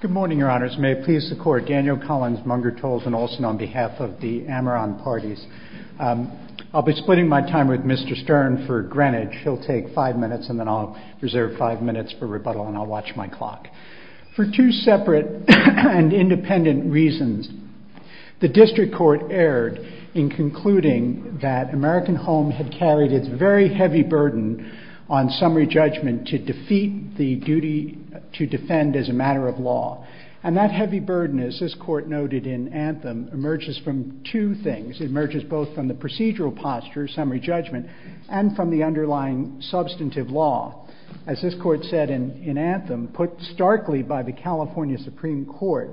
Good morning, Your Honours. May it please the Court, Daniel Collins, Munger Tolles and Olsen on behalf of the Ameron Parties. I'll be splitting my time with Mr. Stern for Greenwich. He'll take five minutes and then I'll reserve five minutes for rebuttal and I'll watch my clock. For two separate and independent reasons, the District Court erred in concluding that American Home had carried its very heavy burden on summary judgment to defeat the duty to defend as a matter of law. And that heavy burden, as this Court noted in Anthem, emerges from two things. It emerges both from the procedural posture, summary judgment, and from the underlying substantive law. As this Court said in Anthem, put starkly by the California Supreme Court,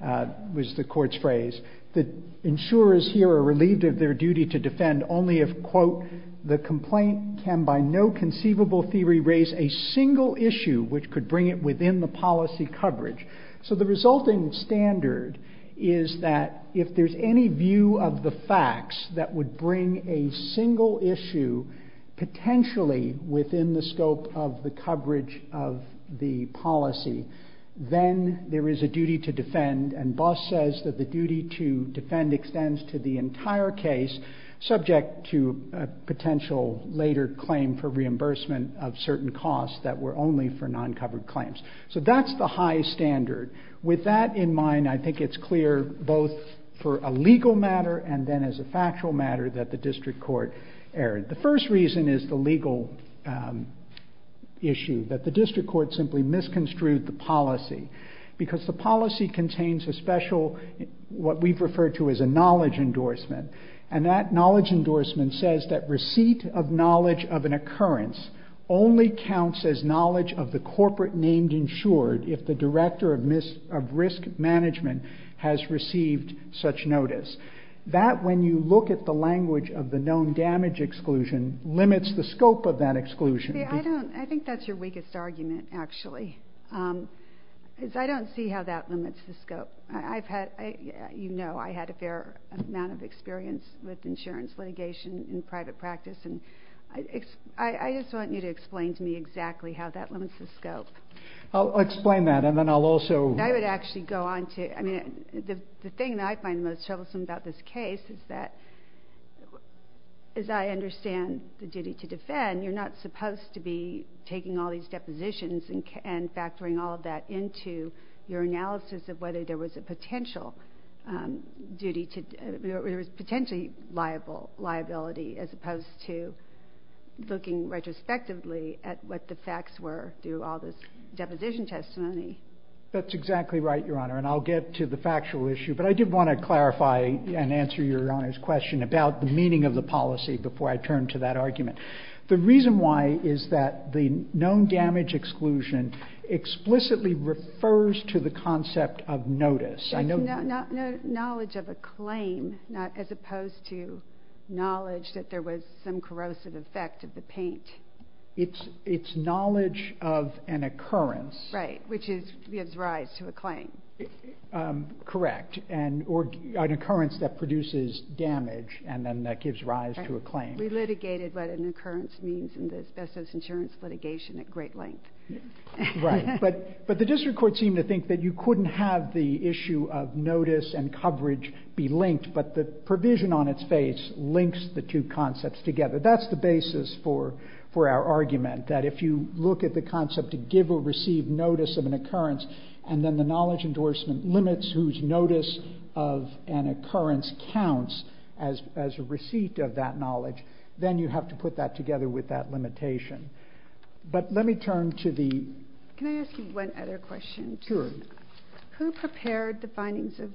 was the Court's phrase, that insurers here are relieved of their duty to defend only if, quote, the complaint can by no conceivable theory raise a single issue which could bring it within the policy coverage. So the resulting standard is that if there's any view of the facts that would bring a single issue potentially within the scope of the coverage of the policy, then there is a duty to defend. And Buss says that the duty to defend extends to the entire case subject to a potential later claim for reimbursement of certain costs that were only for non-covered claims. So that's the high standard. With that in mind, I think it's clear both for a legal matter and then as a factual matter that the District Court erred. The first reason is the legal issue, that the District Court simply misconstrued the policy because the policy contains a special, what we've referred to as a knowledge endorsement. And that knowledge endorsement says that receipt of knowledge of an occurrence only counts as knowledge of the corporate named insured if the Director of Risk Management has received such notice. That, when you look at the language of the known damage exclusion, limits the scope of that exclusion. I think that's your weakest argument, actually. I don't see how that limits the scope. You know I had a fair amount of experience with insurance litigation in private practice. I just want you to explain to me exactly how that limits the scope. I'll explain that and then I'll also... I would actually go on to... I mean, the thing that I find most troublesome about this case is that as I understand the duty to defend, you're not supposed to be taking all these depositions and factoring all of that into your analysis of whether there was a potential liability as opposed to looking retrospectively at what the facts were through all this deposition testimony. That's exactly right, Your Honor, and I'll get to the factual issue. But I did want to clarify and answer Your Honor's question about the meaning of the policy before I turn to that argument. The reason why is that the known damage exclusion explicitly refers to the concept of notice. Knowledge of a claim as opposed to knowledge that there was some corrosive effect of the paint. It's knowledge of an occurrence. Right, which gives rise to a claim. Correct, or an occurrence that produces damage and then that gives rise to a claim. We litigated what an occurrence means in the best-of-insurance litigation at great length. Right, but the district court seemed to think that you couldn't have the issue of notice and coverage be linked, but the provision on its face links the two concepts together. That's the basis for our argument, that if you look at the concept to give or receive notice of an occurrence and then the knowledge endorsement limits whose notice of an occurrence counts as a receipt of that knowledge, then you have to put that together with that limitation. But let me turn to the... Can I ask you one other question? Sure. Who prepared the findings of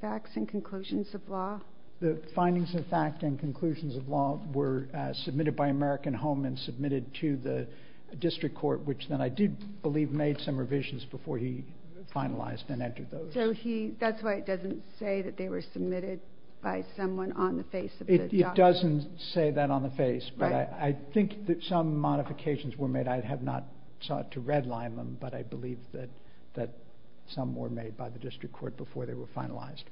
facts and conclusions of law? The findings of fact and conclusions of law were submitted by American Home and submitted to the district court, which then I do believe made some revisions before he finalized and entered those. That's why it doesn't say that they were submitted by someone on the face of the document. It doesn't say that on the face, but I think that some modifications were made. I have not sought to redline them, but I believe that some were made by the district court before they were finalized.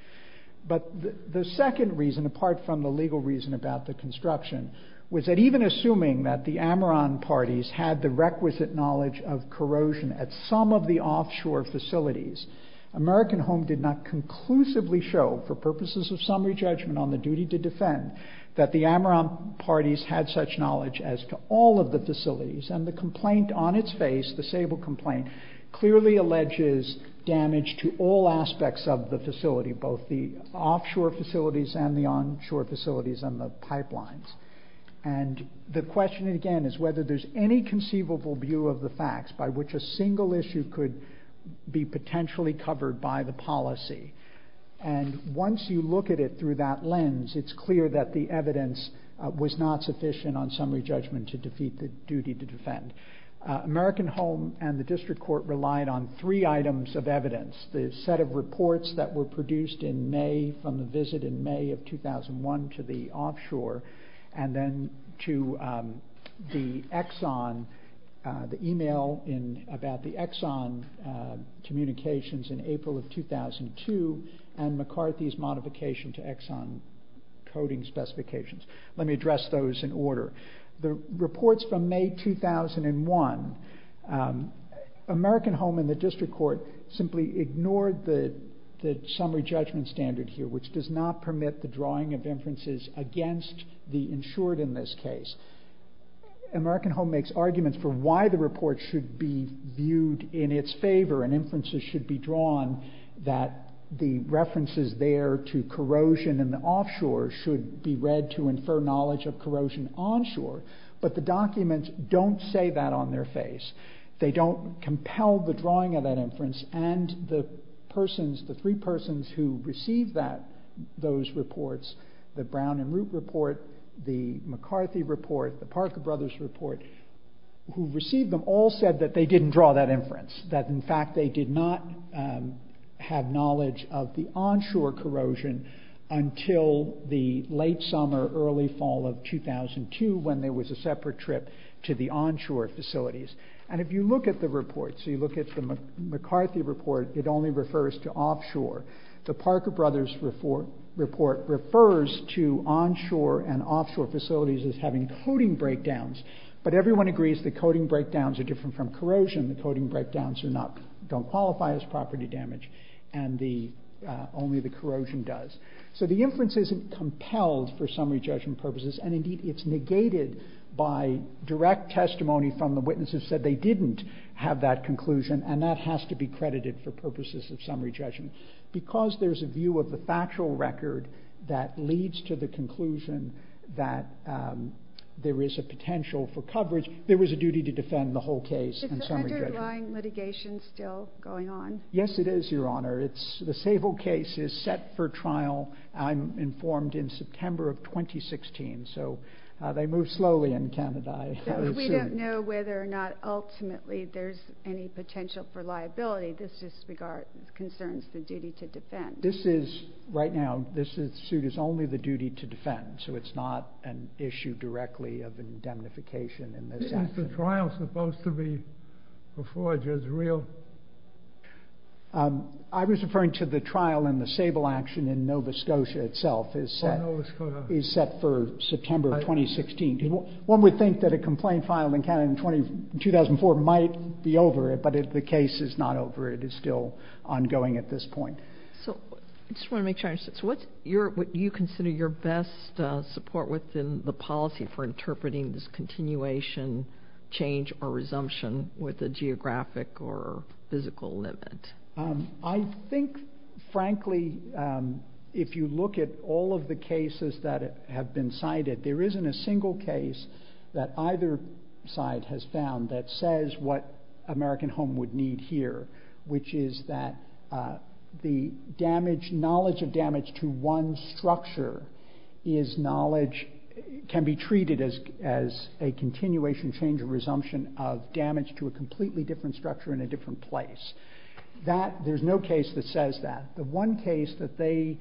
But the second reason, apart from the legal reason about the construction, was that even assuming that the Ameron parties had the requisite knowledge of corrosion at some of the offshore facilities, American Home did not conclusively show, for purposes of summary judgment on the duty to defend, that the Ameron parties had such knowledge as to all of the facilities. And the complaint on its face, the Sable complaint, clearly alleges damage to all aspects of the facility, both the offshore facilities and the onshore facilities and the pipelines. And the question again is whether there's any conceivable view of the facts by which a single issue could be potentially covered by the policy. And once you look at it through that lens, it's clear that the evidence was not sufficient on summary judgment to defeat the duty to defend. American Home and the district court relied on three items of evidence. The set of reports that were produced in May, from the visit in May of 2001 to the offshore, and then to the Exxon, the email about the Exxon communications in April of 2002, and McCarthy's modification to Exxon coding specifications. Let me address those in order. The reports from May 2001, American Home and the district court simply ignored the summary judgment standard here, which does not permit the drawing of inferences against the insured in this case. American Home makes arguments for why the report should be viewed in its favor and inferences should be drawn that the references there to corrosion in the offshore should be read to infer knowledge of corrosion onshore, but the documents don't say that on their face. They don't compel the drawing of that inference and the persons, the three persons who received those reports, the Brown and Root report, the McCarthy report, the Parker Brothers report, who received them all said that they didn't draw that inference, that in fact they did not have knowledge of the onshore corrosion until the late summer, early fall of 2002, when there was a separate trip to the onshore facilities. And if you look at the report, so you look at the McCarthy report, it only refers to offshore. The Parker Brothers report refers to onshore and offshore facilities as having coding breakdowns, but everyone agrees that coding breakdowns are different from corrosion. The coding breakdowns don't qualify as property damage and only the corrosion does. So the inference isn't compelled for summary judgment purposes, and indeed it's negated by direct testimony from the witnesses that they didn't have that conclusion and that has to be credited for purposes of summary judgment. Because there's a view of the factual record that leads to the conclusion that there is a potential for coverage. There was a duty to defend the whole case in summary judgment. Is the underlying litigation still going on? Yes, it is, Your Honor. The Sable case is set for trial, I'm informed, in September of 2016. So they move slowly in Canada. We don't know whether or not ultimately there's any potential for liability. This just concerns the duty to defend. This is, right now, this suit is only the duty to defend, so it's not an issue directly of indemnification in this action. Isn't the trial supposed to be before Judge Reel? I was referring to the trial and the Sable action in Nova Scotia itself is set for September of 2016. One would think that a complaint filed in Canada in 2004 might be over, but if the case is not over, it is still ongoing at this point. I just want to make sure I understand. What do you consider your best support within the policy for interpreting this continuation, change, or resumption with a geographic or physical limit? I think, frankly, if you look at all of the cases that have been cited, there isn't a single case that either side has found that says what American Home would need here, which is that the knowledge of damage to one structure can be treated as a continuation, change, or resumption of damage to a completely different structure in a different place. There's no case that says that. The one case that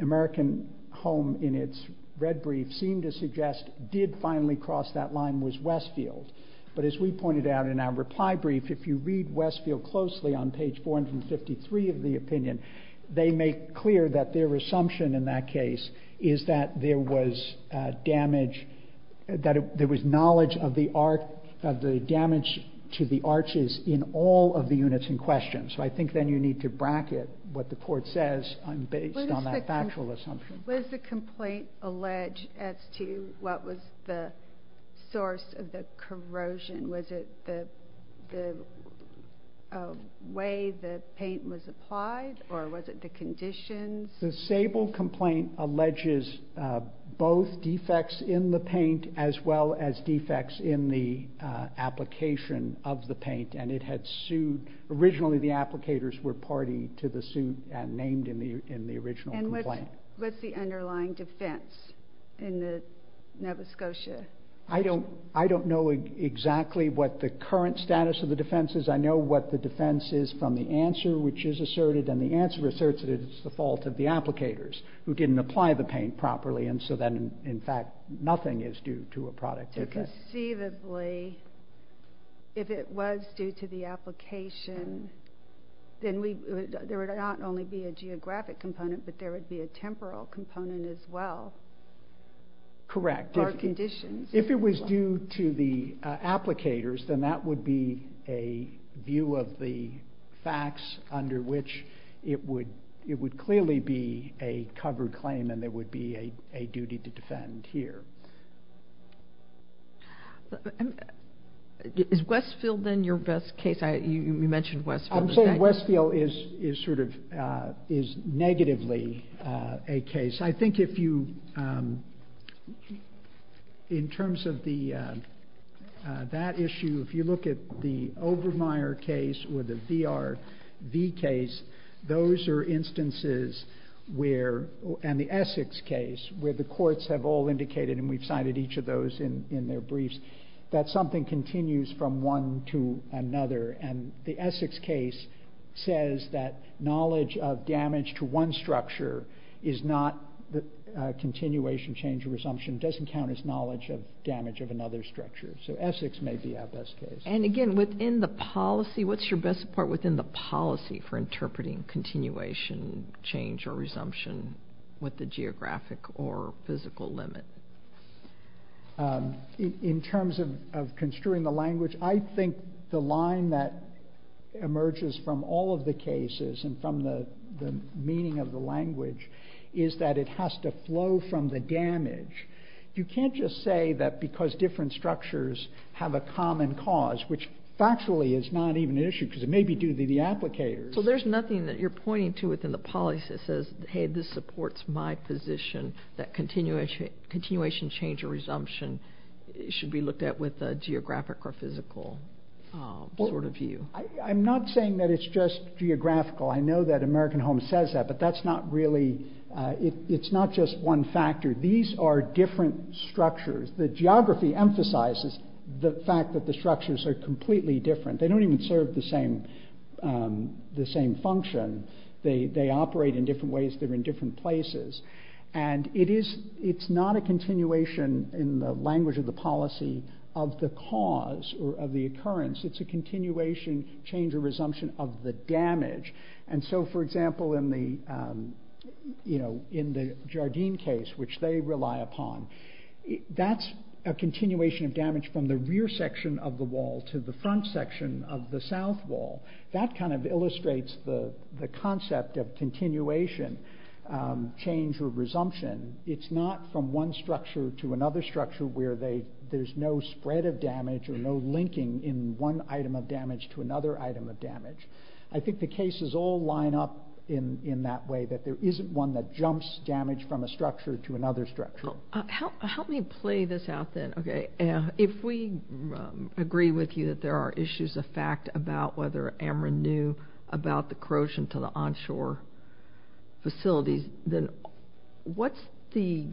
American Home, in its red brief, seemed to suggest did finally cross that line was Westfield. But as we pointed out in our reply brief, if you read Westfield closely on page 453 of the opinion, they make clear that their assumption in that case is that there was damage, that there was knowledge of the damage to the arches in all of the units in question. So I think then you need to bracket what the court says based on that factual assumption. Was the complaint alleged as to what was the source of the corrosion? Was it the way the paint was applied, or was it the conditions? The Sable complaint alleges both defects in the paint as well as defects in the application of the paint, and it had sued, originally the applicators were party to the suit and named in the original complaint. What's the underlying defense in the Nova Scotia? I don't know exactly what the current status of the defense is. I know what the defense is from the answer which is asserted, and the answer asserts that it's the fault of the applicators who didn't apply the paint properly, and so then, in fact, nothing is due to a product defect. So conceivably, if it was due to the application, then there would not only be a geographic component, but there would be a temporal component as well. Correct. Or conditions. If it was due to the applicators, then that would be a view of the facts under which it would clearly be a covered claim and there would be a duty to defend here. Is Westfield then your best case? You mentioned Westfield. I'm saying Westfield is sort of negatively a case. I think if you, in terms of that issue, if you look at the Obermeyer case or the VRV case, those are instances where, and the Essex case, where the courts have all indicated, and we've cited each of those in their briefs, that something continues from one to another, and the Essex case says that knowledge of damage to one structure is not continuation, change, or resumption. It doesn't count as knowledge of damage of another structure. So Essex may be our best case. And again, within the policy, what's your best support within the policy for interpreting continuation, change, or resumption with the geographic or physical limit? In terms of construing the language, I think the line that emerges from all of the cases and from the meaning of the language is that it has to flow from the damage. You can't just say that because different structures have a common cause, which factually is not even an issue because it may be due to the applicators. So there's nothing that you're pointing to within the policy that says, hey, this supports my position that continuation, change, or resumption should be looked at with a geographic or physical sort of view. I'm not saying that it's just geographical. I know that American Home says that, but that's not really, it's not just one factor. These are different structures. The geography emphasizes the fact that the structures are completely different. They don't even serve the same function. They operate in different ways. They're in different places. And it's not a continuation in the language of the policy of the cause or of the occurrence. It's a continuation, change, or resumption of the damage. And so, for example, in the Jardine case, which they rely upon, that's a continuation of damage from the rear section of the wall to the front section of the south wall. That kind of illustrates the concept of continuation, change, or resumption. It's not from one structure to another structure where there's no spread of damage or no linking in one item of damage to another item of damage. I think the cases all line up in that way, that there isn't one that jumps damage from a structure to another structure. Help me play this out then. Okay. If we agree with you that there are issues of fact about whether Ameren knew about the corrosion to the onshore facilities, then what's the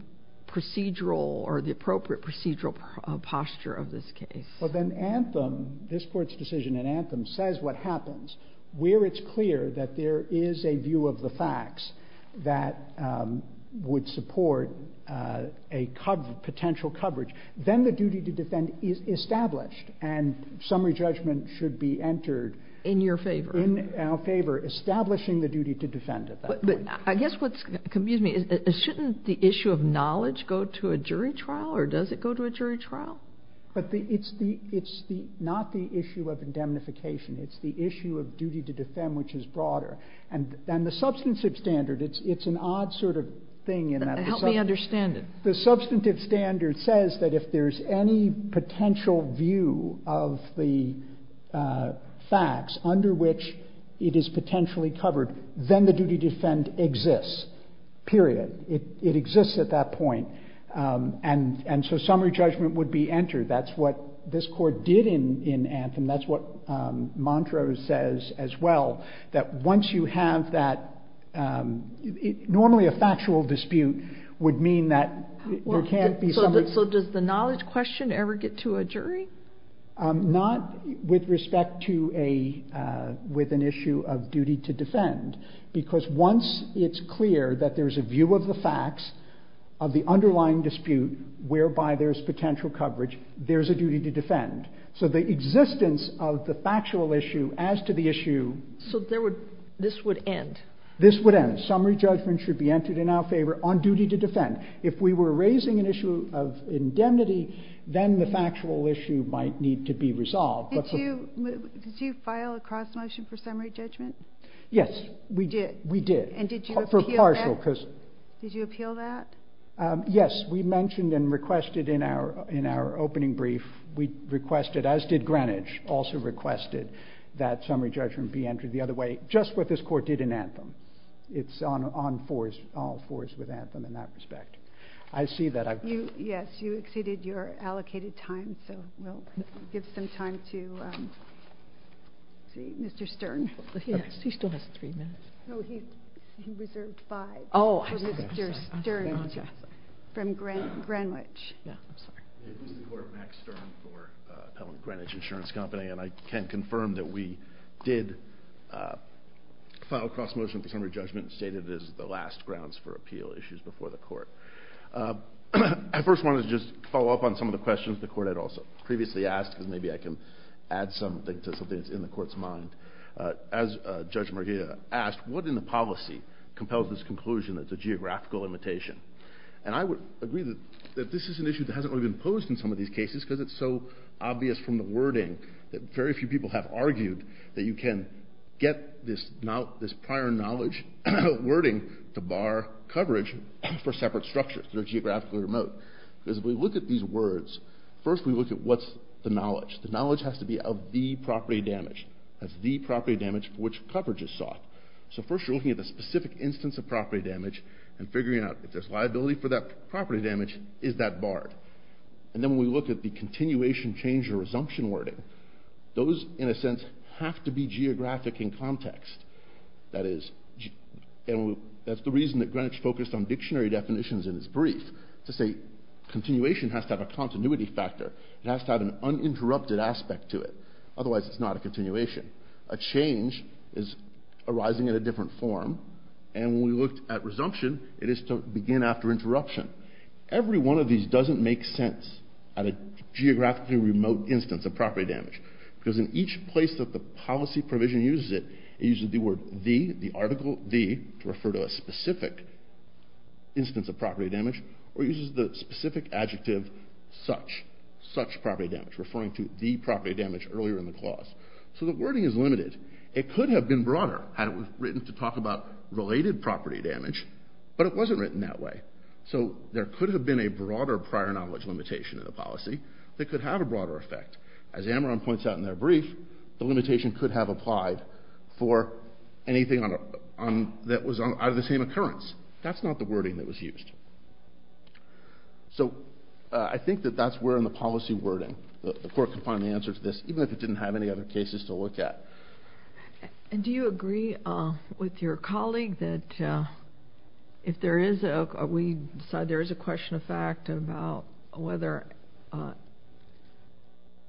procedural or the appropriate procedural posture of this case? Well, then Anthem, this Court's decision in Anthem, says what happens. Where it's clear that there is a view of the facts that would support a potential coverage, then the duty to defend is established, and summary judgment should be entered in our favor, establishing the duty to defend at that point. But I guess what's confusing me is, shouldn't the issue of knowledge go to a jury trial, or does it go to a jury trial? But it's not the issue of indemnification. It's the issue of duty to defend which is broader. And the substantive standard, it's an odd sort of thing. Help me understand it. The substantive standard says that if there's any potential view of the facts under which it is potentially covered, then the duty to defend exists, period. It exists at that point. And so summary judgment would be entered. That's what this Court did in Anthem. That's what Montrose says as well, that once you have that, normally a factual dispute would mean that there can't be summary. So does the knowledge question ever get to a jury? Not with respect to an issue of duty to defend, of the underlying dispute whereby there's potential coverage, there's a duty to defend. So the existence of the factual issue as to the issue. So this would end? This would end. Summary judgment should be entered in our favor on duty to defend. If we were raising an issue of indemnity, then the factual issue might need to be resolved. Did you file a cross-motion for summary judgment? Yes, we did. And did you appeal that? Did you appeal that? Yes, we mentioned and requested in our opening brief, we requested, as did Greenwich, also requested that summary judgment be entered the other way, just what this Court did in Anthem. It's on all fours with Anthem in that respect. I see that. Yes, you exceeded your allocated time, so we'll give some time to Mr. Stern. He still has three minutes. No, he reserved five for Mr. Stern from Greenwich. I'm sorry. This is the Court, Max Stern for Pell and Greenwich Insurance Company, and I can confirm that we did file a cross-motion for summary judgment and stated it as the last grounds for appeal issues before the Court. I first wanted to just follow up on some of the questions the Court had also previously asked, because maybe I can add something to something that's in the Court's mind. As Judge Murguia asked, what in the policy compels this conclusion that it's a geographical limitation? And I would agree that this is an issue that hasn't really been posed in some of these cases because it's so obvious from the wording that very few people have argued that you can get this prior knowledge wording to bar coverage for separate structures that are geographically remote. Because if we look at these words, first we look at what's the knowledge. The knowledge has to be of the property damaged. That's the property damage for which coverage is sought. So first you're looking at the specific instance of property damage and figuring out if there's liability for that property damage, is that barred? And then when we look at the continuation, change, or resumption wording, those, in a sense, have to be geographic in context. That's the reason that Greenwich focused on dictionary definitions in its brief to say continuation has to have a continuity factor. It has to have an uninterrupted aspect to it. Otherwise it's not a continuation. A change is arising in a different form, and when we looked at resumption, it is to begin after interruption. Every one of these doesn't make sense at a geographically remote instance of property damage because in each place that the policy provision uses it, it uses the word the, the article the, to refer to a specific instance of property damage, or it uses the specific adjective such, such property damage, referring to the property damage earlier in the clause. So the wording is limited. It could have been broader had it been written to talk about related property damage, but it wasn't written that way. So there could have been a broader prior knowledge limitation in the policy that could have a broader effect. As Amron points out in their brief, the limitation could have applied for anything that was out of the same occurrence. That's not the wording that was used. So I think that that's where in the policy wording, the court can find the answer to this, even if it didn't have any other cases to look at. And do you agree with your colleague that if there is a, we decide there is a question of fact about whether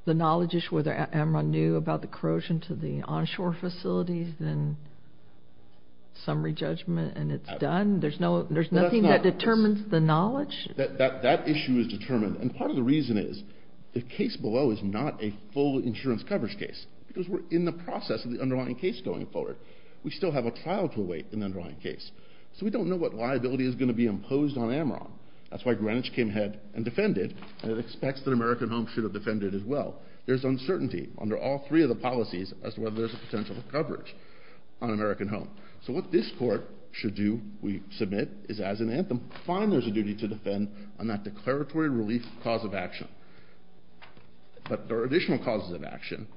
the knowledge issue, whether Amron knew about the corrosion to the onshore facilities, then summary judgment and it's done? There's nothing that determines the knowledge? That issue is determined, and part of the reason is the case below is not a full insurance coverage case because we're in the process of the underlying case going forward. We still have a trial to await in the underlying case. So we don't know what liability is going to be imposed on Amron. That's why Greenwich came ahead and defended and it expects that American Home should have defended as well. There's uncertainty under all three of the policies as to whether there's a potential coverage on American Home. So what this court should do, we submit, is as an anthem, find there's a duty to defend on that declaratory relief cause of action. But there are additional causes of action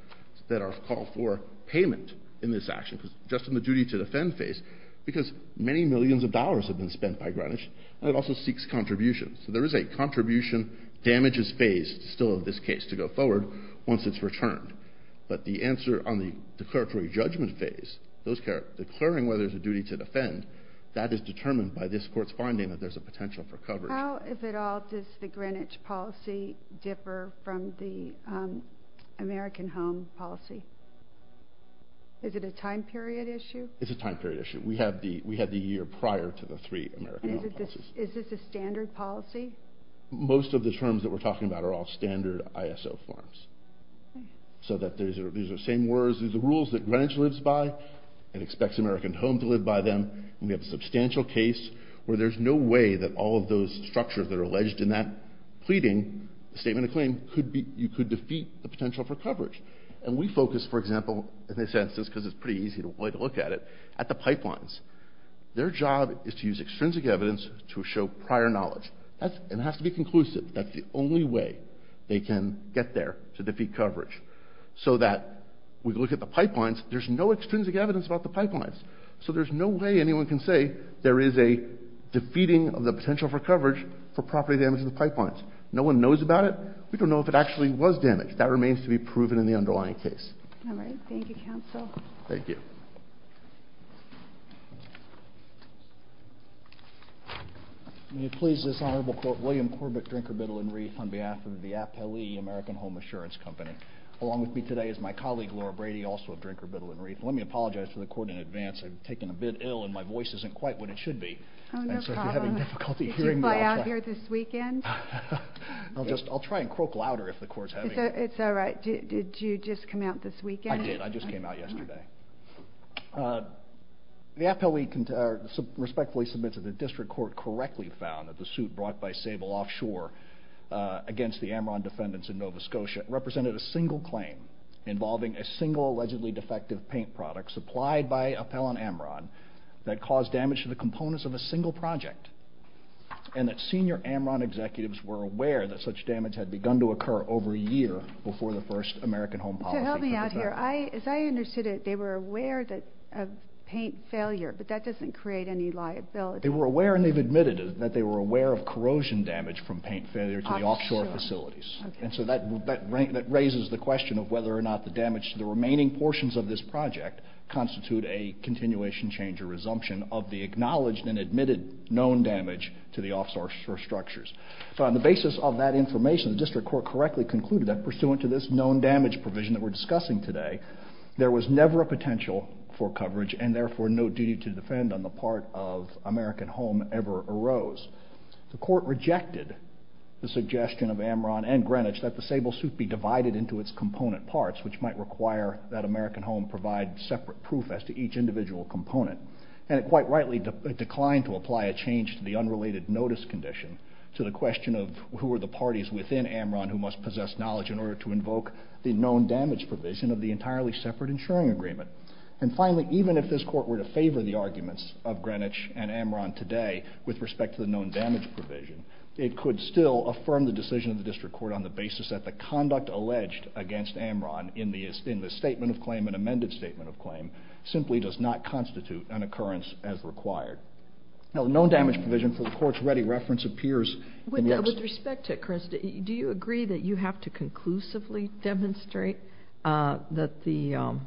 that are called for payment in this action just in the duty to defend phase because many millions of dollars have been spent by Greenwich and it also seeks contributions. So there is a contribution damages phase still in this case to go forward once it's returned. But the answer on the declaratory judgment phase, declaring whether there's a duty to defend, that is determined by this court's finding that there's a potential for coverage. How, if at all, does the Greenwich policy differ from the American Home policy? Is it a time period issue? It's a time period issue. We have the year prior to the three American Home policies. Is this a standard policy? Most of the terms that we're talking about are all standard ISO forms. So that these are the same words as the rules that Greenwich lives by and expects American Home to live by them. We have a substantial case where there's no way that all of those structures that are alleged in that pleading, statement of claim, you could defeat the potential for coverage. And we focus, for example, in this instance because it's pretty easy to look at it, at the pipelines. Their job is to use extrinsic evidence to show prior knowledge. It has to be conclusive. That's the only way they can get there to defeat coverage so that we look at the pipelines. There's no extrinsic evidence about the pipelines. So there's no way anyone can say there is a defeating of the potential for coverage for property damage to the pipelines. No one knows about it. We don't know if it actually was damaged. That remains to be proven in the underlying case. All right. Thank you, counsel. Thank you. May it please this Honorable Court, William Corbett, Drinker, Biddle & Wreath, on behalf of the Appellee American Home Assurance Company, along with me today is my colleague, Laura Brady, also of Drinker, Biddle & Wreath. Let me apologize to the Court in advance. I've taken a bit ill and my voice isn't quite what it should be. Oh, no problem. And so if you're having difficulty hearing me, I'll try. Did you fly out here this weekend? I'll try and croak louder if the Court's having me. It's all right. Did you just come out this weekend? I did. I just came out yesterday. The Appellee respectfully submits that the District Court correctly found that the suit brought by Sable Offshore against the Amron defendants in Nova Scotia represented a single claim involving a single allegedly defective paint product supplied by Appell on Amron that caused damage to the components of a single project and that senior Amron executives were aware that such damage had begun to occur over a year before the first American Home Policy came about. So help me out here. As I understood it, they were aware of paint failure, but that doesn't create any liability. They were aware, and they've admitted it, that they were aware of corrosion damage from paint failure to the offshore facilities. And so that raises the question of whether or not the damage to the remaining portions of this project constitute a continuation, change, or resumption of the acknowledged and admitted known damage to the offshore structures. So on the basis of that information, the District Court correctly concluded that pursuant to this known damage provision that we're discussing today, there was never a potential for coverage and therefore no duty to defend on the part of American Home ever arose. The Court rejected the suggestion of Amron and Greenwich that the Sable Suit be divided into its component parts, which might require that American Home provide separate proof as to each individual component. And it quite rightly declined to apply a change to the unrelated notice condition to the question of who are the parties within Amron who must possess knowledge in order to invoke the known damage provision of the entirely separate insuring agreement. And finally, even if this Court were to favor the arguments of Greenwich and Amron today with respect to the known damage provision, it could still affirm the decision of the District Court on the basis that the conduct alleged against Amron in the statement of claim and amended statement of claim simply does not constitute an occurrence as required. Now the known damage provision for the Court's ready reference appears in the next... With respect to it, Chris, do you agree that you have to conclusively demonstrate that the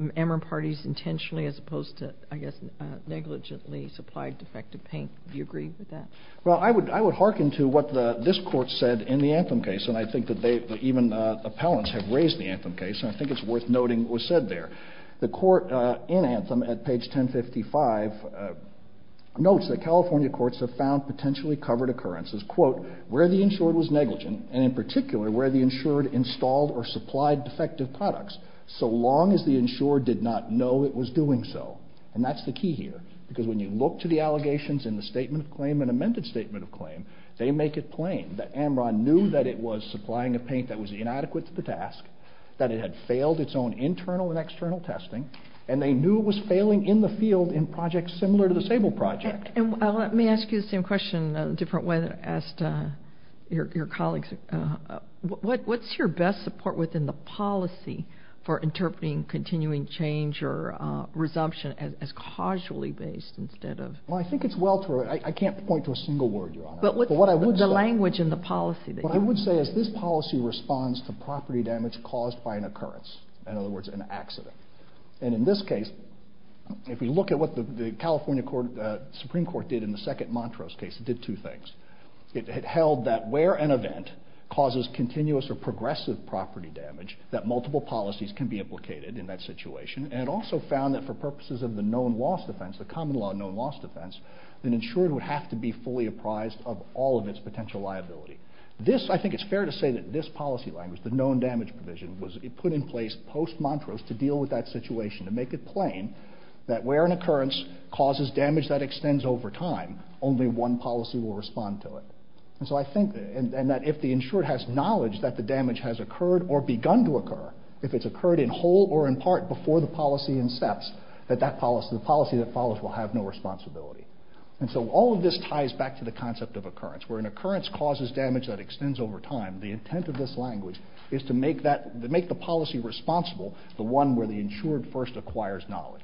Amron parties intentionally as opposed to, I guess, negligently supplied defective paint? Do you agree with that? Well, I would hearken to what this Court said in the Anthem case, and I think that even appellants have raised the Anthem case, and I think it's worth noting what was said there. The Court in Anthem at page 1055 notes that California courts have found potentially covered occurrences, quote, where the insured was negligent, and in particular, where the insured installed or supplied defective products, so long as the insured did not know it was doing so. And that's the key here, because when you look to the allegations in the statement of claim and amended statement of claim, they make it plain that Amron knew that it was supplying a paint that was inadequate to the task, that it had failed its own internal and external testing, and they knew it was failing in the field in projects similar to the Sable project. And let me ask you the same question a different way than I asked your colleagues. What's your best support within the policy for interpreting continuing change or resumption as causally based instead of... Well, I think it's well through. I can't point to a single word, Your Honor. But what I would say... The language in the policy... What I would say is this policy responds to property damage caused by an occurrence, in other words, an accident. And in this case, if we look at what the California Supreme Court did in the second Montrose case, it did two things. It held that where an event causes continuous or progressive property damage, that multiple policies can be implicated in that situation, and it also found that for purposes of the known loss defense, the common law known loss defense, an insured would have to be fully apprised of all of its potential liability. This, I think it's fair to say that this policy language, the known damage provision, was put in place post-Montrose to deal with that situation, to make it plain that where an occurrence causes damage that extends over time, only one policy will respond to it. And so I think that if the insured has knowledge that the damage has occurred or begun to occur, if it's occurred in whole or in part before the policy incepts, that the policy that follows will have no responsibility. And so all of this ties back to the concept of occurrence. Where an occurrence causes damage that extends over time, the intent of this language is to make the policy responsible, the one where the insured first acquires knowledge.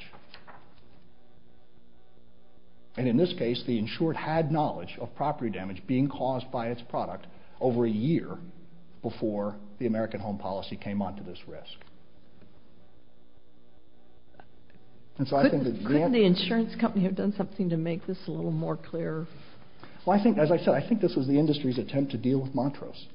And in this case, the insured had knowledge of property damage being caused by its product over a year before the American Home Policy came onto this risk. Couldn't the insurance company have done something to make this a little more clear? Well, as I said, I think this was the industry's attempt to deal with Montrose.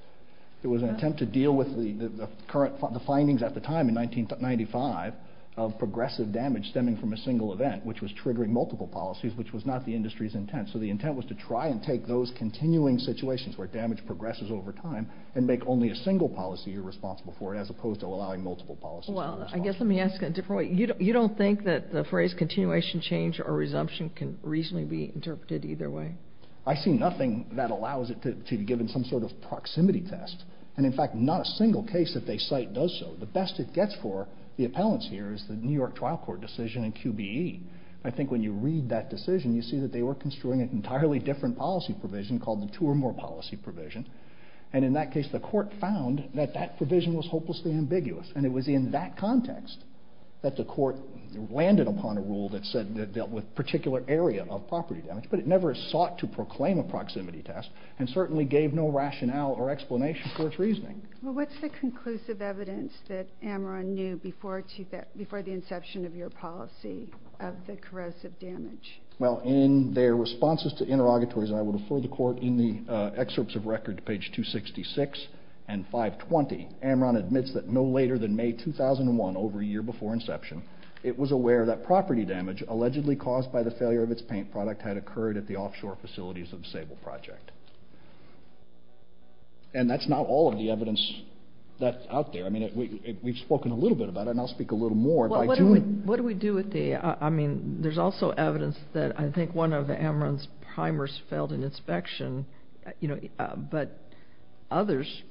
It was an attempt to deal with the findings at the time in 1995 of progressive damage stemming from a single event, which was triggering multiple policies, which was not the industry's intent. So the intent was to try and take those continuing situations where damage progresses over time and make only a single policy you're responsible for as opposed to allowing multiple policies to be responsible. Well, I guess let me ask it a different way. You don't think that the phrase continuation change or resumption can reasonably be interpreted either way? I see nothing that allows it to be given some sort of proximity test. And in fact, not a single case that they cite does so. The best it gets for the appellants here is the New York Trial Court decision in QBE. I think when you read that decision, you see that they were construing an entirely different policy provision called the two or more policy provision. And in that case, the court found that that provision was hopelessly ambiguous. And it was in that context that the court landed upon a rule that said it dealt with a particular area of property damage, but it never sought to proclaim a proximity test and certainly gave no rationale or explanation for its reasoning. Well, what's the conclusive evidence that Ameron knew before the inception of your policy of the corrosive damage? Well, in their responses to interrogatories, and I will refer the court in the excerpts of record to page 266 and 520, Ameron admits that no later than May 2001, over a year before inception, it was aware that property damage allegedly caused by the failure of its paint product had occurred at the offshore facilities of the Sable Project. And that's not all of the evidence that's out there. I mean, we've spoken a little bit about it, and I'll speak a little more. What do we do with the... I mean, there's also evidence that I think one of Ameron's primers failed an inspection, you know, but others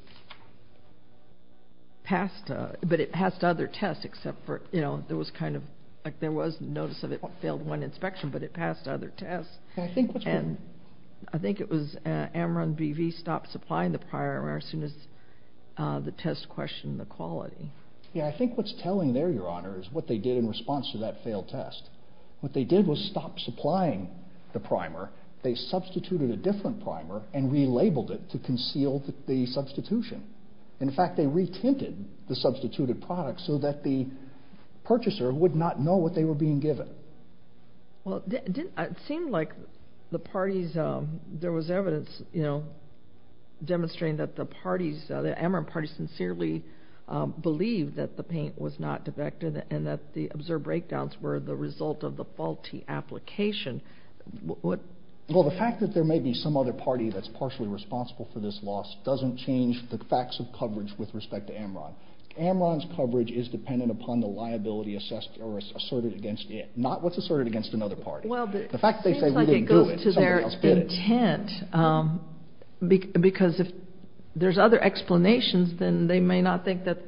passed, but it passed other tests except for, you know, there was kind of, like there was notice of it failed one inspection, but it passed other tests. And I think it was Ameron BV stopped supplying the primer as soon as the test questioned the quality. Yeah, I think what's telling there, Your Honor, is what they did in response to that failed test. What they did was stop supplying the primer. They substituted a different primer and relabeled it to conceal the substitution. In fact, they retinted the substituted product so that the purchaser would not know what they were being given. Well, it seemed like the parties, there was evidence, you know, demonstrating that the parties, the Ameron party, sincerely believed that the paint was not defective and that the observed breakdowns were the result of the faulty application. Well, the fact that there may be some other party that's partially responsible for this loss doesn't change the facts of coverage with respect to Ameron. Ameron's coverage is dependent upon the liability assessed or asserted against it, not what's asserted against another party. Well, it seems like it goes to their intent because if there's other explanations, then they may not think that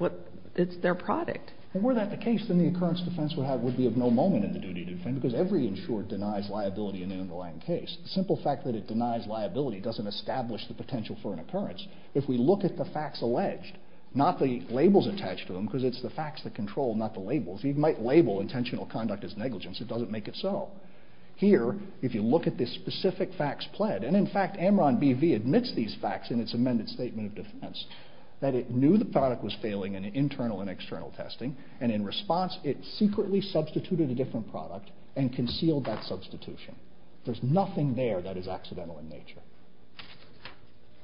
it's their product. And were that the case, then the occurrence defense would be of no moment in the duty defense because every insurer denies liability in the underlying case. The simple fact that it denies liability doesn't establish the potential for an occurrence. If we look at the facts alleged, not the labels attached to them because it's the facts that control, not the labels, you might label intentional conduct as negligence. It doesn't make it so. Here, if you look at the specific facts pled, and in fact Ameron BV admits these facts in its amended statement of defense, that it knew the product was failing in internal and external testing, and in response it secretly substituted a different product and concealed that substitution. There's nothing there that is accidental in nature.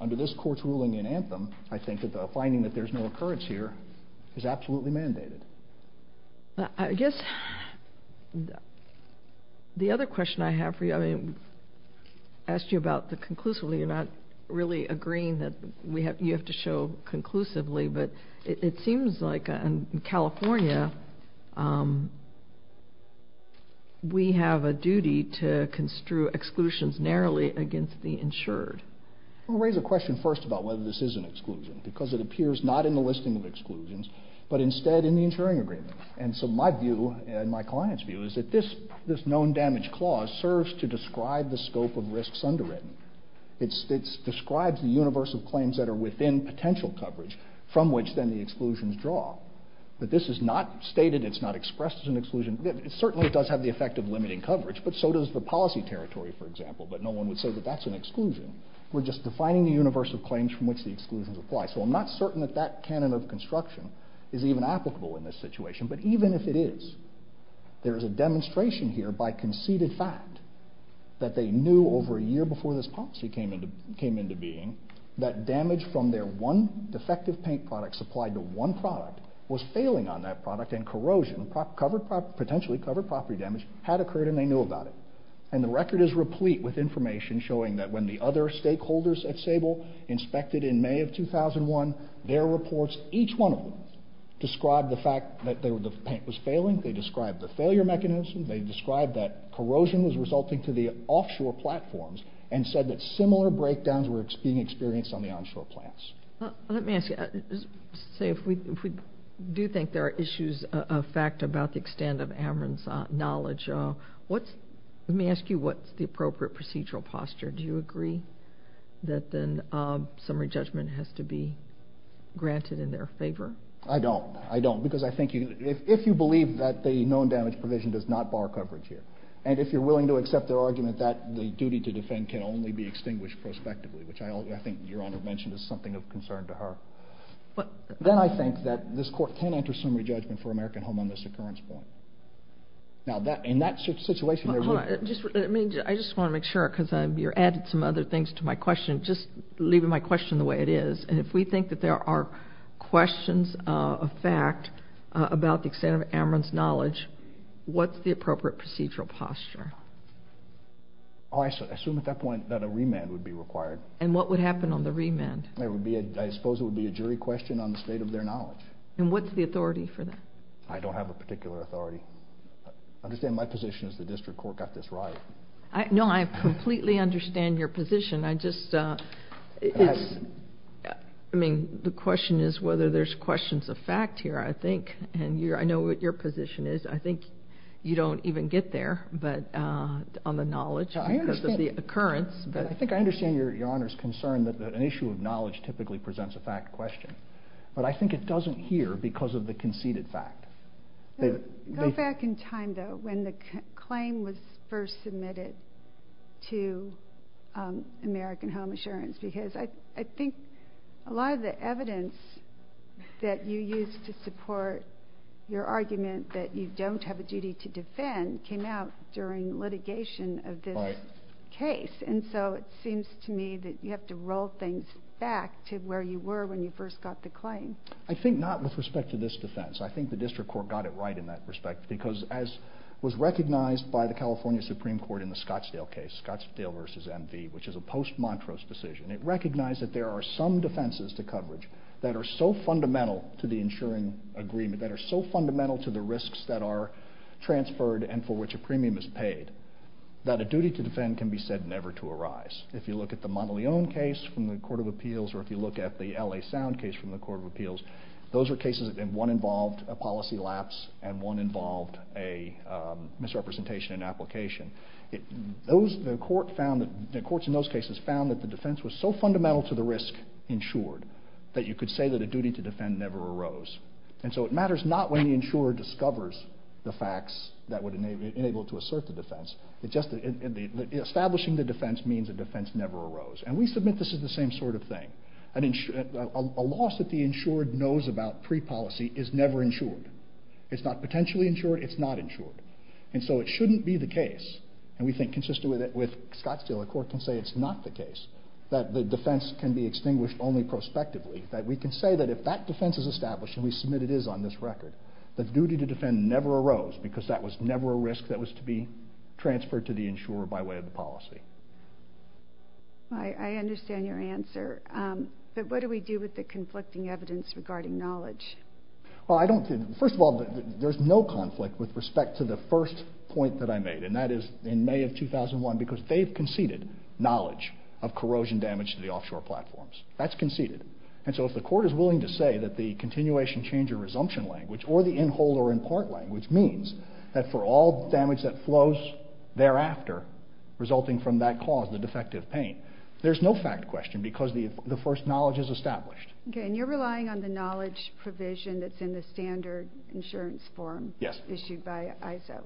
Under this court's ruling in Anthem, I think that the finding that there's no occurrence here is absolutely mandated. I guess the other question I have for you, I mean, I asked you about the conclusively. You're not really agreeing that you have to show conclusively, but it seems like in California we have a duty to construe exclusions narrowly against the insured. I'll raise a question first about whether this is an exclusion because it appears not in the listing of exclusions, but instead in the insuring agreement. And so my view, and my client's view, is that this known damage clause serves to describe the scope of risks underwritten. It describes the universe of claims that are within potential coverage from which then the exclusions draw. But this is not stated, it's not expressed as an exclusion. It certainly does have the effect of limiting coverage, but so does the policy territory, for example, but no one would say that that's an exclusion. We're just defining the universe of claims from which the exclusions apply. So I'm not certain that that canon of construction is even applicable in this situation, but even if it is, there is a demonstration here by conceded fact that they knew over a year before this policy came into being that damage from their one defective paint product supplied to one product was failing on that product and corrosion, potentially covered property damage, had occurred and they knew about it. And the record is replete with information showing that when the other stakeholders at Sable inspected in May of 2001, their reports, each one of them, described the fact that the paint was failing, they described the failure mechanism, they described that corrosion was resulting to the offshore platforms and said that similar breakdowns were being experienced on the onshore plants. Let me ask you, say if we do think there are issues of fact about the extent of Averant's knowledge, let me ask you what's the appropriate procedural posture. Do you agree that then summary judgment has to be granted in their favor? I don't. I don't. Because I think if you believe that the known damage provision does not bar coverage here, and if you're willing to accept their argument that the duty to defend can only be extinguished prospectively, which I think Your Honor mentioned is something of concern to her, then I think that this court can enter summary judgment for American Home on this occurrence point. Now in that situation... I just want to make sure, because you added some other things to my question, just leaving my question the way it is, and if we think that there are questions of fact about the extent of Averant's knowledge, what's the appropriate procedural posture? I assume at that point that a remand would be required. And what would happen on the remand? I suppose it would be a jury question on the state of their knowledge. And what's the authority for that? I don't have a particular authority. I understand my position is the district court got this right. No, I completely understand your position. The question is whether there's questions of fact here, I think. I know what your position is. I think you don't even get there on the knowledge because of the occurrence. I think I understand Your Honor's concern that an issue of knowledge typically presents a fact question. But I think it doesn't here because of the conceded fact. Go back in time, though, when the claim was first submitted to American Home Assurance. Because I think a lot of the evidence that you used to support your argument that you don't have a duty to defend came out during litigation of this case. And so it seems to me that you have to roll things back to where you were when you first got the claim. I think not with respect to this defense. I think the district court got it right in that respect because as was recognized by the California Supreme Court in the Scottsdale case, Scottsdale v. MV, which is a post-Montrose decision, it recognized that there are some defenses to coverage that are so fundamental to the insuring agreement, that are so fundamental to the risks that are transferred and for which a premium is paid, that a duty to defend can be said never to arise. If you look at the Monteleone case from the Court of Appeals or if you look at the L.A. Sound case from the Court of Appeals, those are cases in one involved a policy lapse and one involved a misrepresentation in application. The courts in those cases found that the defense was so fundamental to the risk insured that you could say that a duty to defend never arose. And so it matters not when the insurer discovers the facts that would enable it to assert the defense. Establishing the defense means a defense never arose. And we submit this as the same sort of thing. A loss that the insured knows about pre-policy is never insured. It's not potentially insured, it's not insured. And so it shouldn't be the case, and we think consistent with Scott's deal, the court can say it's not the case, that the defense can be extinguished only prospectively, that we can say that if that defense is established, and we submit it is on this record, the duty to defend never arose because that was never a risk that was to be transferred to the insurer by way of the policy. I understand your answer, but what do we do with the conflicting evidence regarding knowledge? Well, first of all, there's no conflict with respect to the first point that I made, and that is in May of 2001, because they've conceded knowledge of corrosion damage to the offshore platforms. That's conceded. And so if the court is willing to say that the continuation, change, or resumption language, or the in whole or in part language, means that for all damage that flows thereafter, resulting from that cause, the defective paint, there's no fact question, because the first knowledge is established. Okay, and you're relying on the knowledge provision that's in the standard insurance form issued by ISO.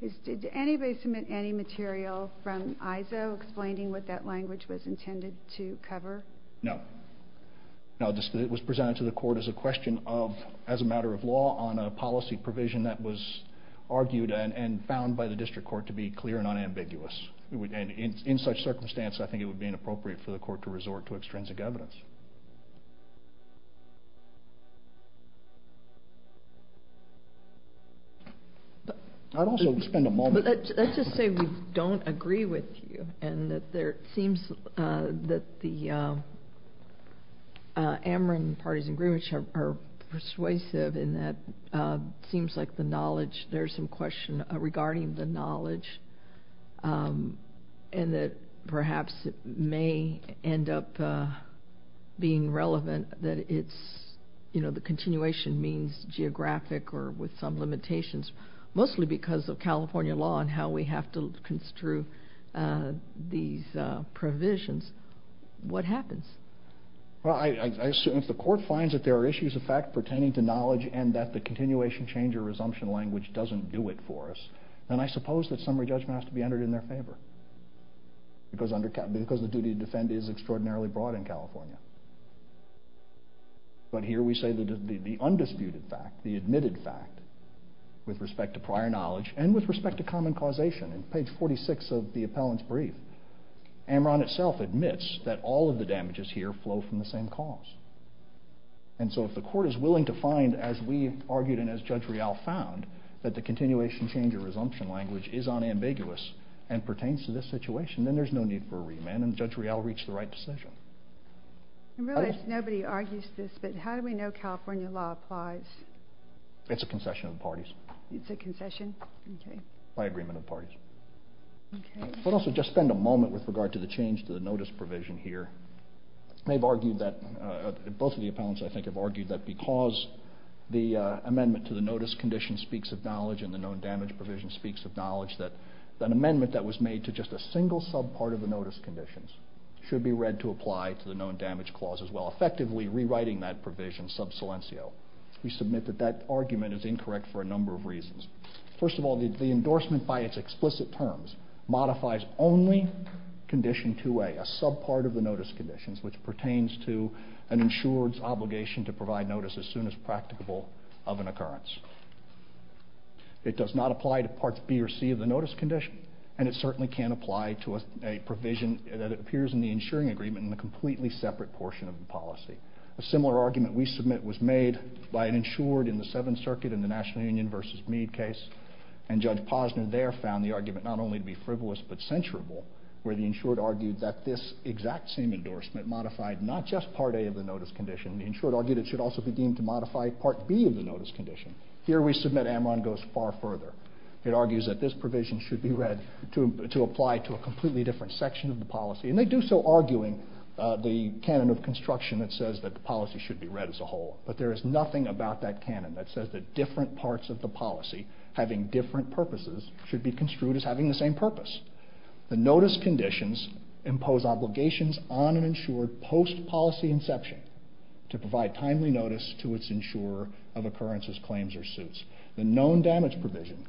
Yes. Did anybody submit any material from ISO explaining what that language was intended to cover? No. No, it was presented to the court as a question of, as a matter of law, on a policy provision that was argued and found by the district court to be clear and unambiguous. And in such circumstance, I think it would be inappropriate for the court to resort to extrinsic evidence. I'd also spend a moment... Let's just say we don't agree with you, and that there seems that the Ameren party's agreements are persuasive in that it seems like the knowledge, there's some question regarding the knowledge, and that perhaps it may end up being relevant that it's, you know, the continuation means geographic or with some limitations, mostly because of California law and how we have to construe these provisions. What happens? Well, I assume if the court finds that there are issues of fact pertaining to knowledge and that the continuation, change, or resumption language doesn't do it for us, then I suppose that summary judgment has to be entered in their favor because the duty to defend is extraordinarily broad in California. But here we say that the undisputed fact, the admitted fact, with respect to prior knowledge and with respect to common causation, in page 46 of the appellant's brief, Ameren itself admits that all of the damages here flow from the same cause. And so if the court is willing to find, as we argued and as Judge Real found, that the continuation, change, or resumption language is unambiguous and pertains to this situation, then there's no need for a remand, and Judge Real reached the right decision. I realize nobody argues this, but how do we know California law applies? It's a concession of the parties. It's a concession? Okay. By agreement of the parties. Okay. We'll also just spend a moment with regard to the change to the notice provision here. They've argued that, both of the appellants, I think, have argued that because the amendment to the notice condition speaks of knowledge and the known damage provision speaks of knowledge, that an amendment that was made to just a single subpart of the notice conditions should be read to apply to the known damage clause as well, effectively rewriting that provision sub silencio. We submit that that argument is incorrect for a number of reasons. First of all, the endorsement by its explicit terms modifies only condition 2A, a subpart of the notice conditions, which pertains to an insured's obligation to provide notice as soon as practicable of an occurrence. It does not apply to Parts B or C of the notice condition, and it certainly can't apply to a provision that appears in the insuring agreement in the completely separate portion of the policy. A similar argument we submit was made by an insured in the Seventh Circuit in the National Union v. Meade case, and Judge Posner there found the argument not only to be frivolous but censurable, where the insured argued that this exact same endorsement modified not just Part A of the notice condition. The insured argued it should also be deemed to modify Part B of the notice condition. Here we submit Amron goes far further. It argues that this provision should be read to apply to a completely different section of the policy, and they do so arguing the canon of construction that says that the policy should be read as a whole, but there is nothing about that canon that says that different parts of the policy, having different purposes, should be construed as having the same purpose. The notice conditions impose obligations on an insured post-policy inception to provide timely notice to its insurer of occurrences, claims, or suits. The known damage provision,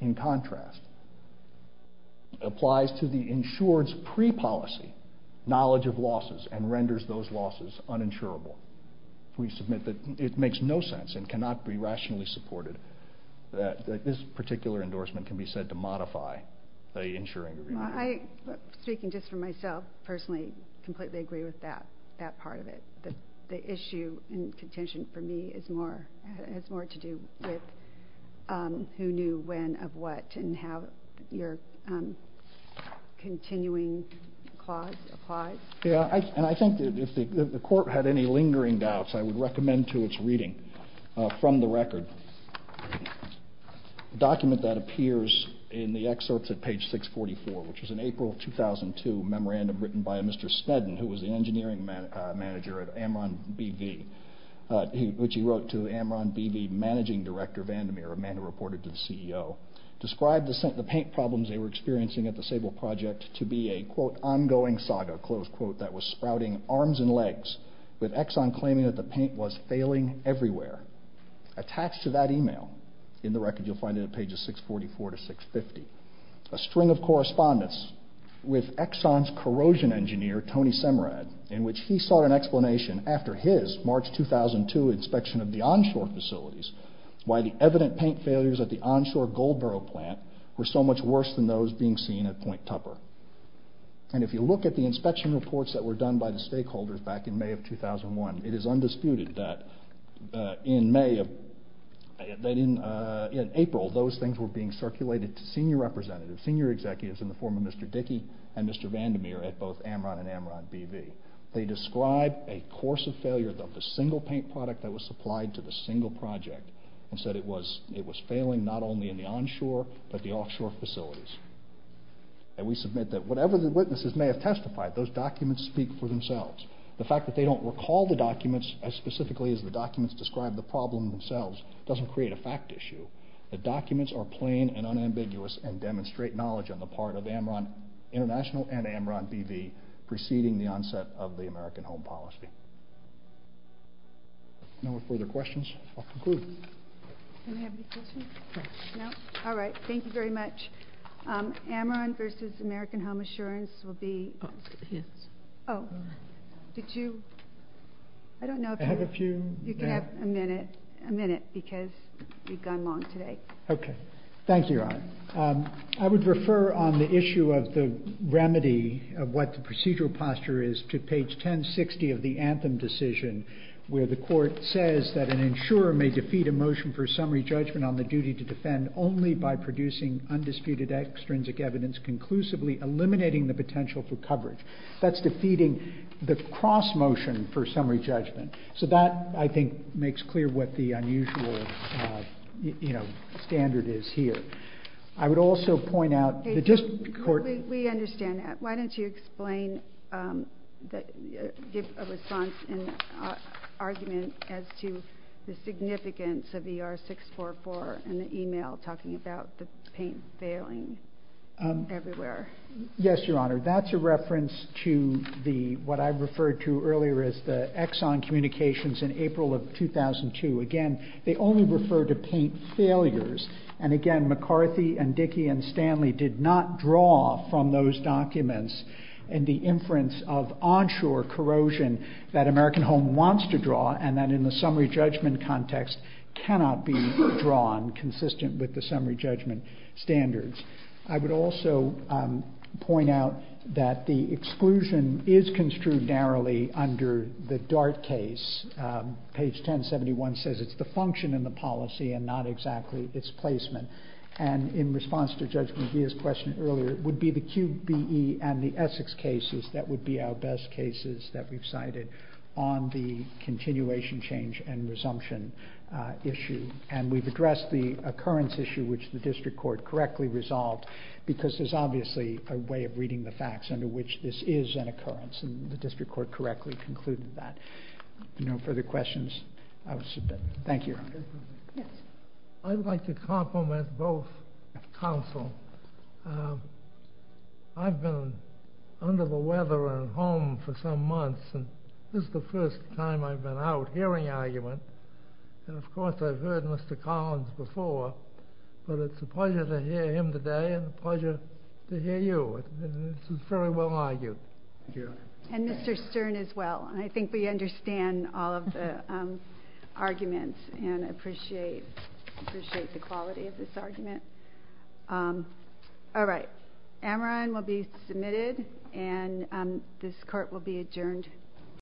in contrast, applies to the insured's pre-policy knowledge of losses and renders those losses uninsurable. We submit that it makes no sense and cannot be rationally supported that this particular endorsement can be said to modify the insuring agreement. I, speaking just for myself, personally completely agree with that part of it. The issue in contention for me has more to do with who knew when of what and how your continuing clause applies. Yeah, and I think that if the court had any lingering doubts, I would recommend to its reading from the record a document that appears in the excerpts at page 644, which was an April 2002 memorandum written by a Mr. Sneddon, who was the engineering manager at Amron B.V., which he wrote to Amron B.V. managing director Vandermeer, a man who reported to the CEO, described the paint problems they were experiencing at the Sable project to be a, quote, ongoing saga, close quote, that was sprouting arms and legs, with Exxon claiming that the paint was failing everywhere. Attached to that email, in the record, you'll find it at pages 644 to 650, a string of correspondence with Exxon's corrosion engineer, Tony Semrad, in which he sought an explanation after his March 2002 inspection of the onshore facilities why the evident paint failures at the onshore Goldboro plant were so much worse than those being seen at Point Tupper. And if you look at the inspection reports that were done by the stakeholders back in May of 2001, it is undisputed that in April those things were being circulated to senior representatives, senior executives in the form of Mr. Dickey and Mr. Vandermeer at both Amron and Amron B.V. They described a course of failure of the single paint product that was supplied to the single project and said it was failing not only in the onshore but the offshore facilities. And we submit that whatever the witnesses may have testified, those documents speak for themselves. The fact that they don't recall the documents as specifically as the documents describe the problem themselves doesn't create a fact issue. The documents are plain and unambiguous and demonstrate knowledge on the part of Amron International and Amron B.V. preceding the onset of the American Home Policy. No further questions? I'll conclude. Can I have any questions? No? All right. Thank you very much. Amron v. American Home Assurance will be... Oh. Did you... I don't know if you... You can have a minute because you've gone long today. Okay. Thank you, Your Honor. I would refer on the issue of the remedy of what the procedural posture is to page 1060 of the Anthem decision where the court says that an insurer may defeat a motion for summary judgment on the duty to defend only by producing undisputed extrinsic evidence conclusively eliminating the potential for coverage. That's defeating the cross motion for summary judgment. So that, I think, makes clear what the unusual standard is here. I would also point out... We understand that. Why don't you explain... give a response and argument as to the significance of ER 644 and the email talking about the paint failing everywhere. Yes, Your Honor. That's a reference to what I referred to earlier as the Exxon communications in April of 2002. Again, they only refer to paint failures. And again, McCarthy and Dickey and Stanley did not draw from those documents in the inference of onshore corrosion that American Home wants to draw and that in the summary judgment context cannot be drawn consistent with the summary judgment standards. I would also point out that the exclusion is construed narrowly under the Dart case. Page 1071 says it's the function in the policy and not exactly its placement. And in response to Judge McGee's question earlier, it would be the QBE and the Essex cases that would be our best cases that we've cited on the continuation change and resumption. And we've addressed the occurrence issue which the district court correctly resolved because there's obviously a way of reading the facts under which this is an occurrence and the district court correctly concluded that. If there are no further questions, I will submit. Thank you, Your Honor. I'd like to compliment both counsel. I've been under the weather at home for some months and this is the first time I've been out hearing argument. And of course I've heard Mr. Collins before, but it's a pleasure to hear him today and a pleasure to hear you. This is very well argued. And Mr. Stern as well. I think we understand all of the arguments and appreciate the quality of this argument. All right. Amaran will be submitted and this court will be adjourned.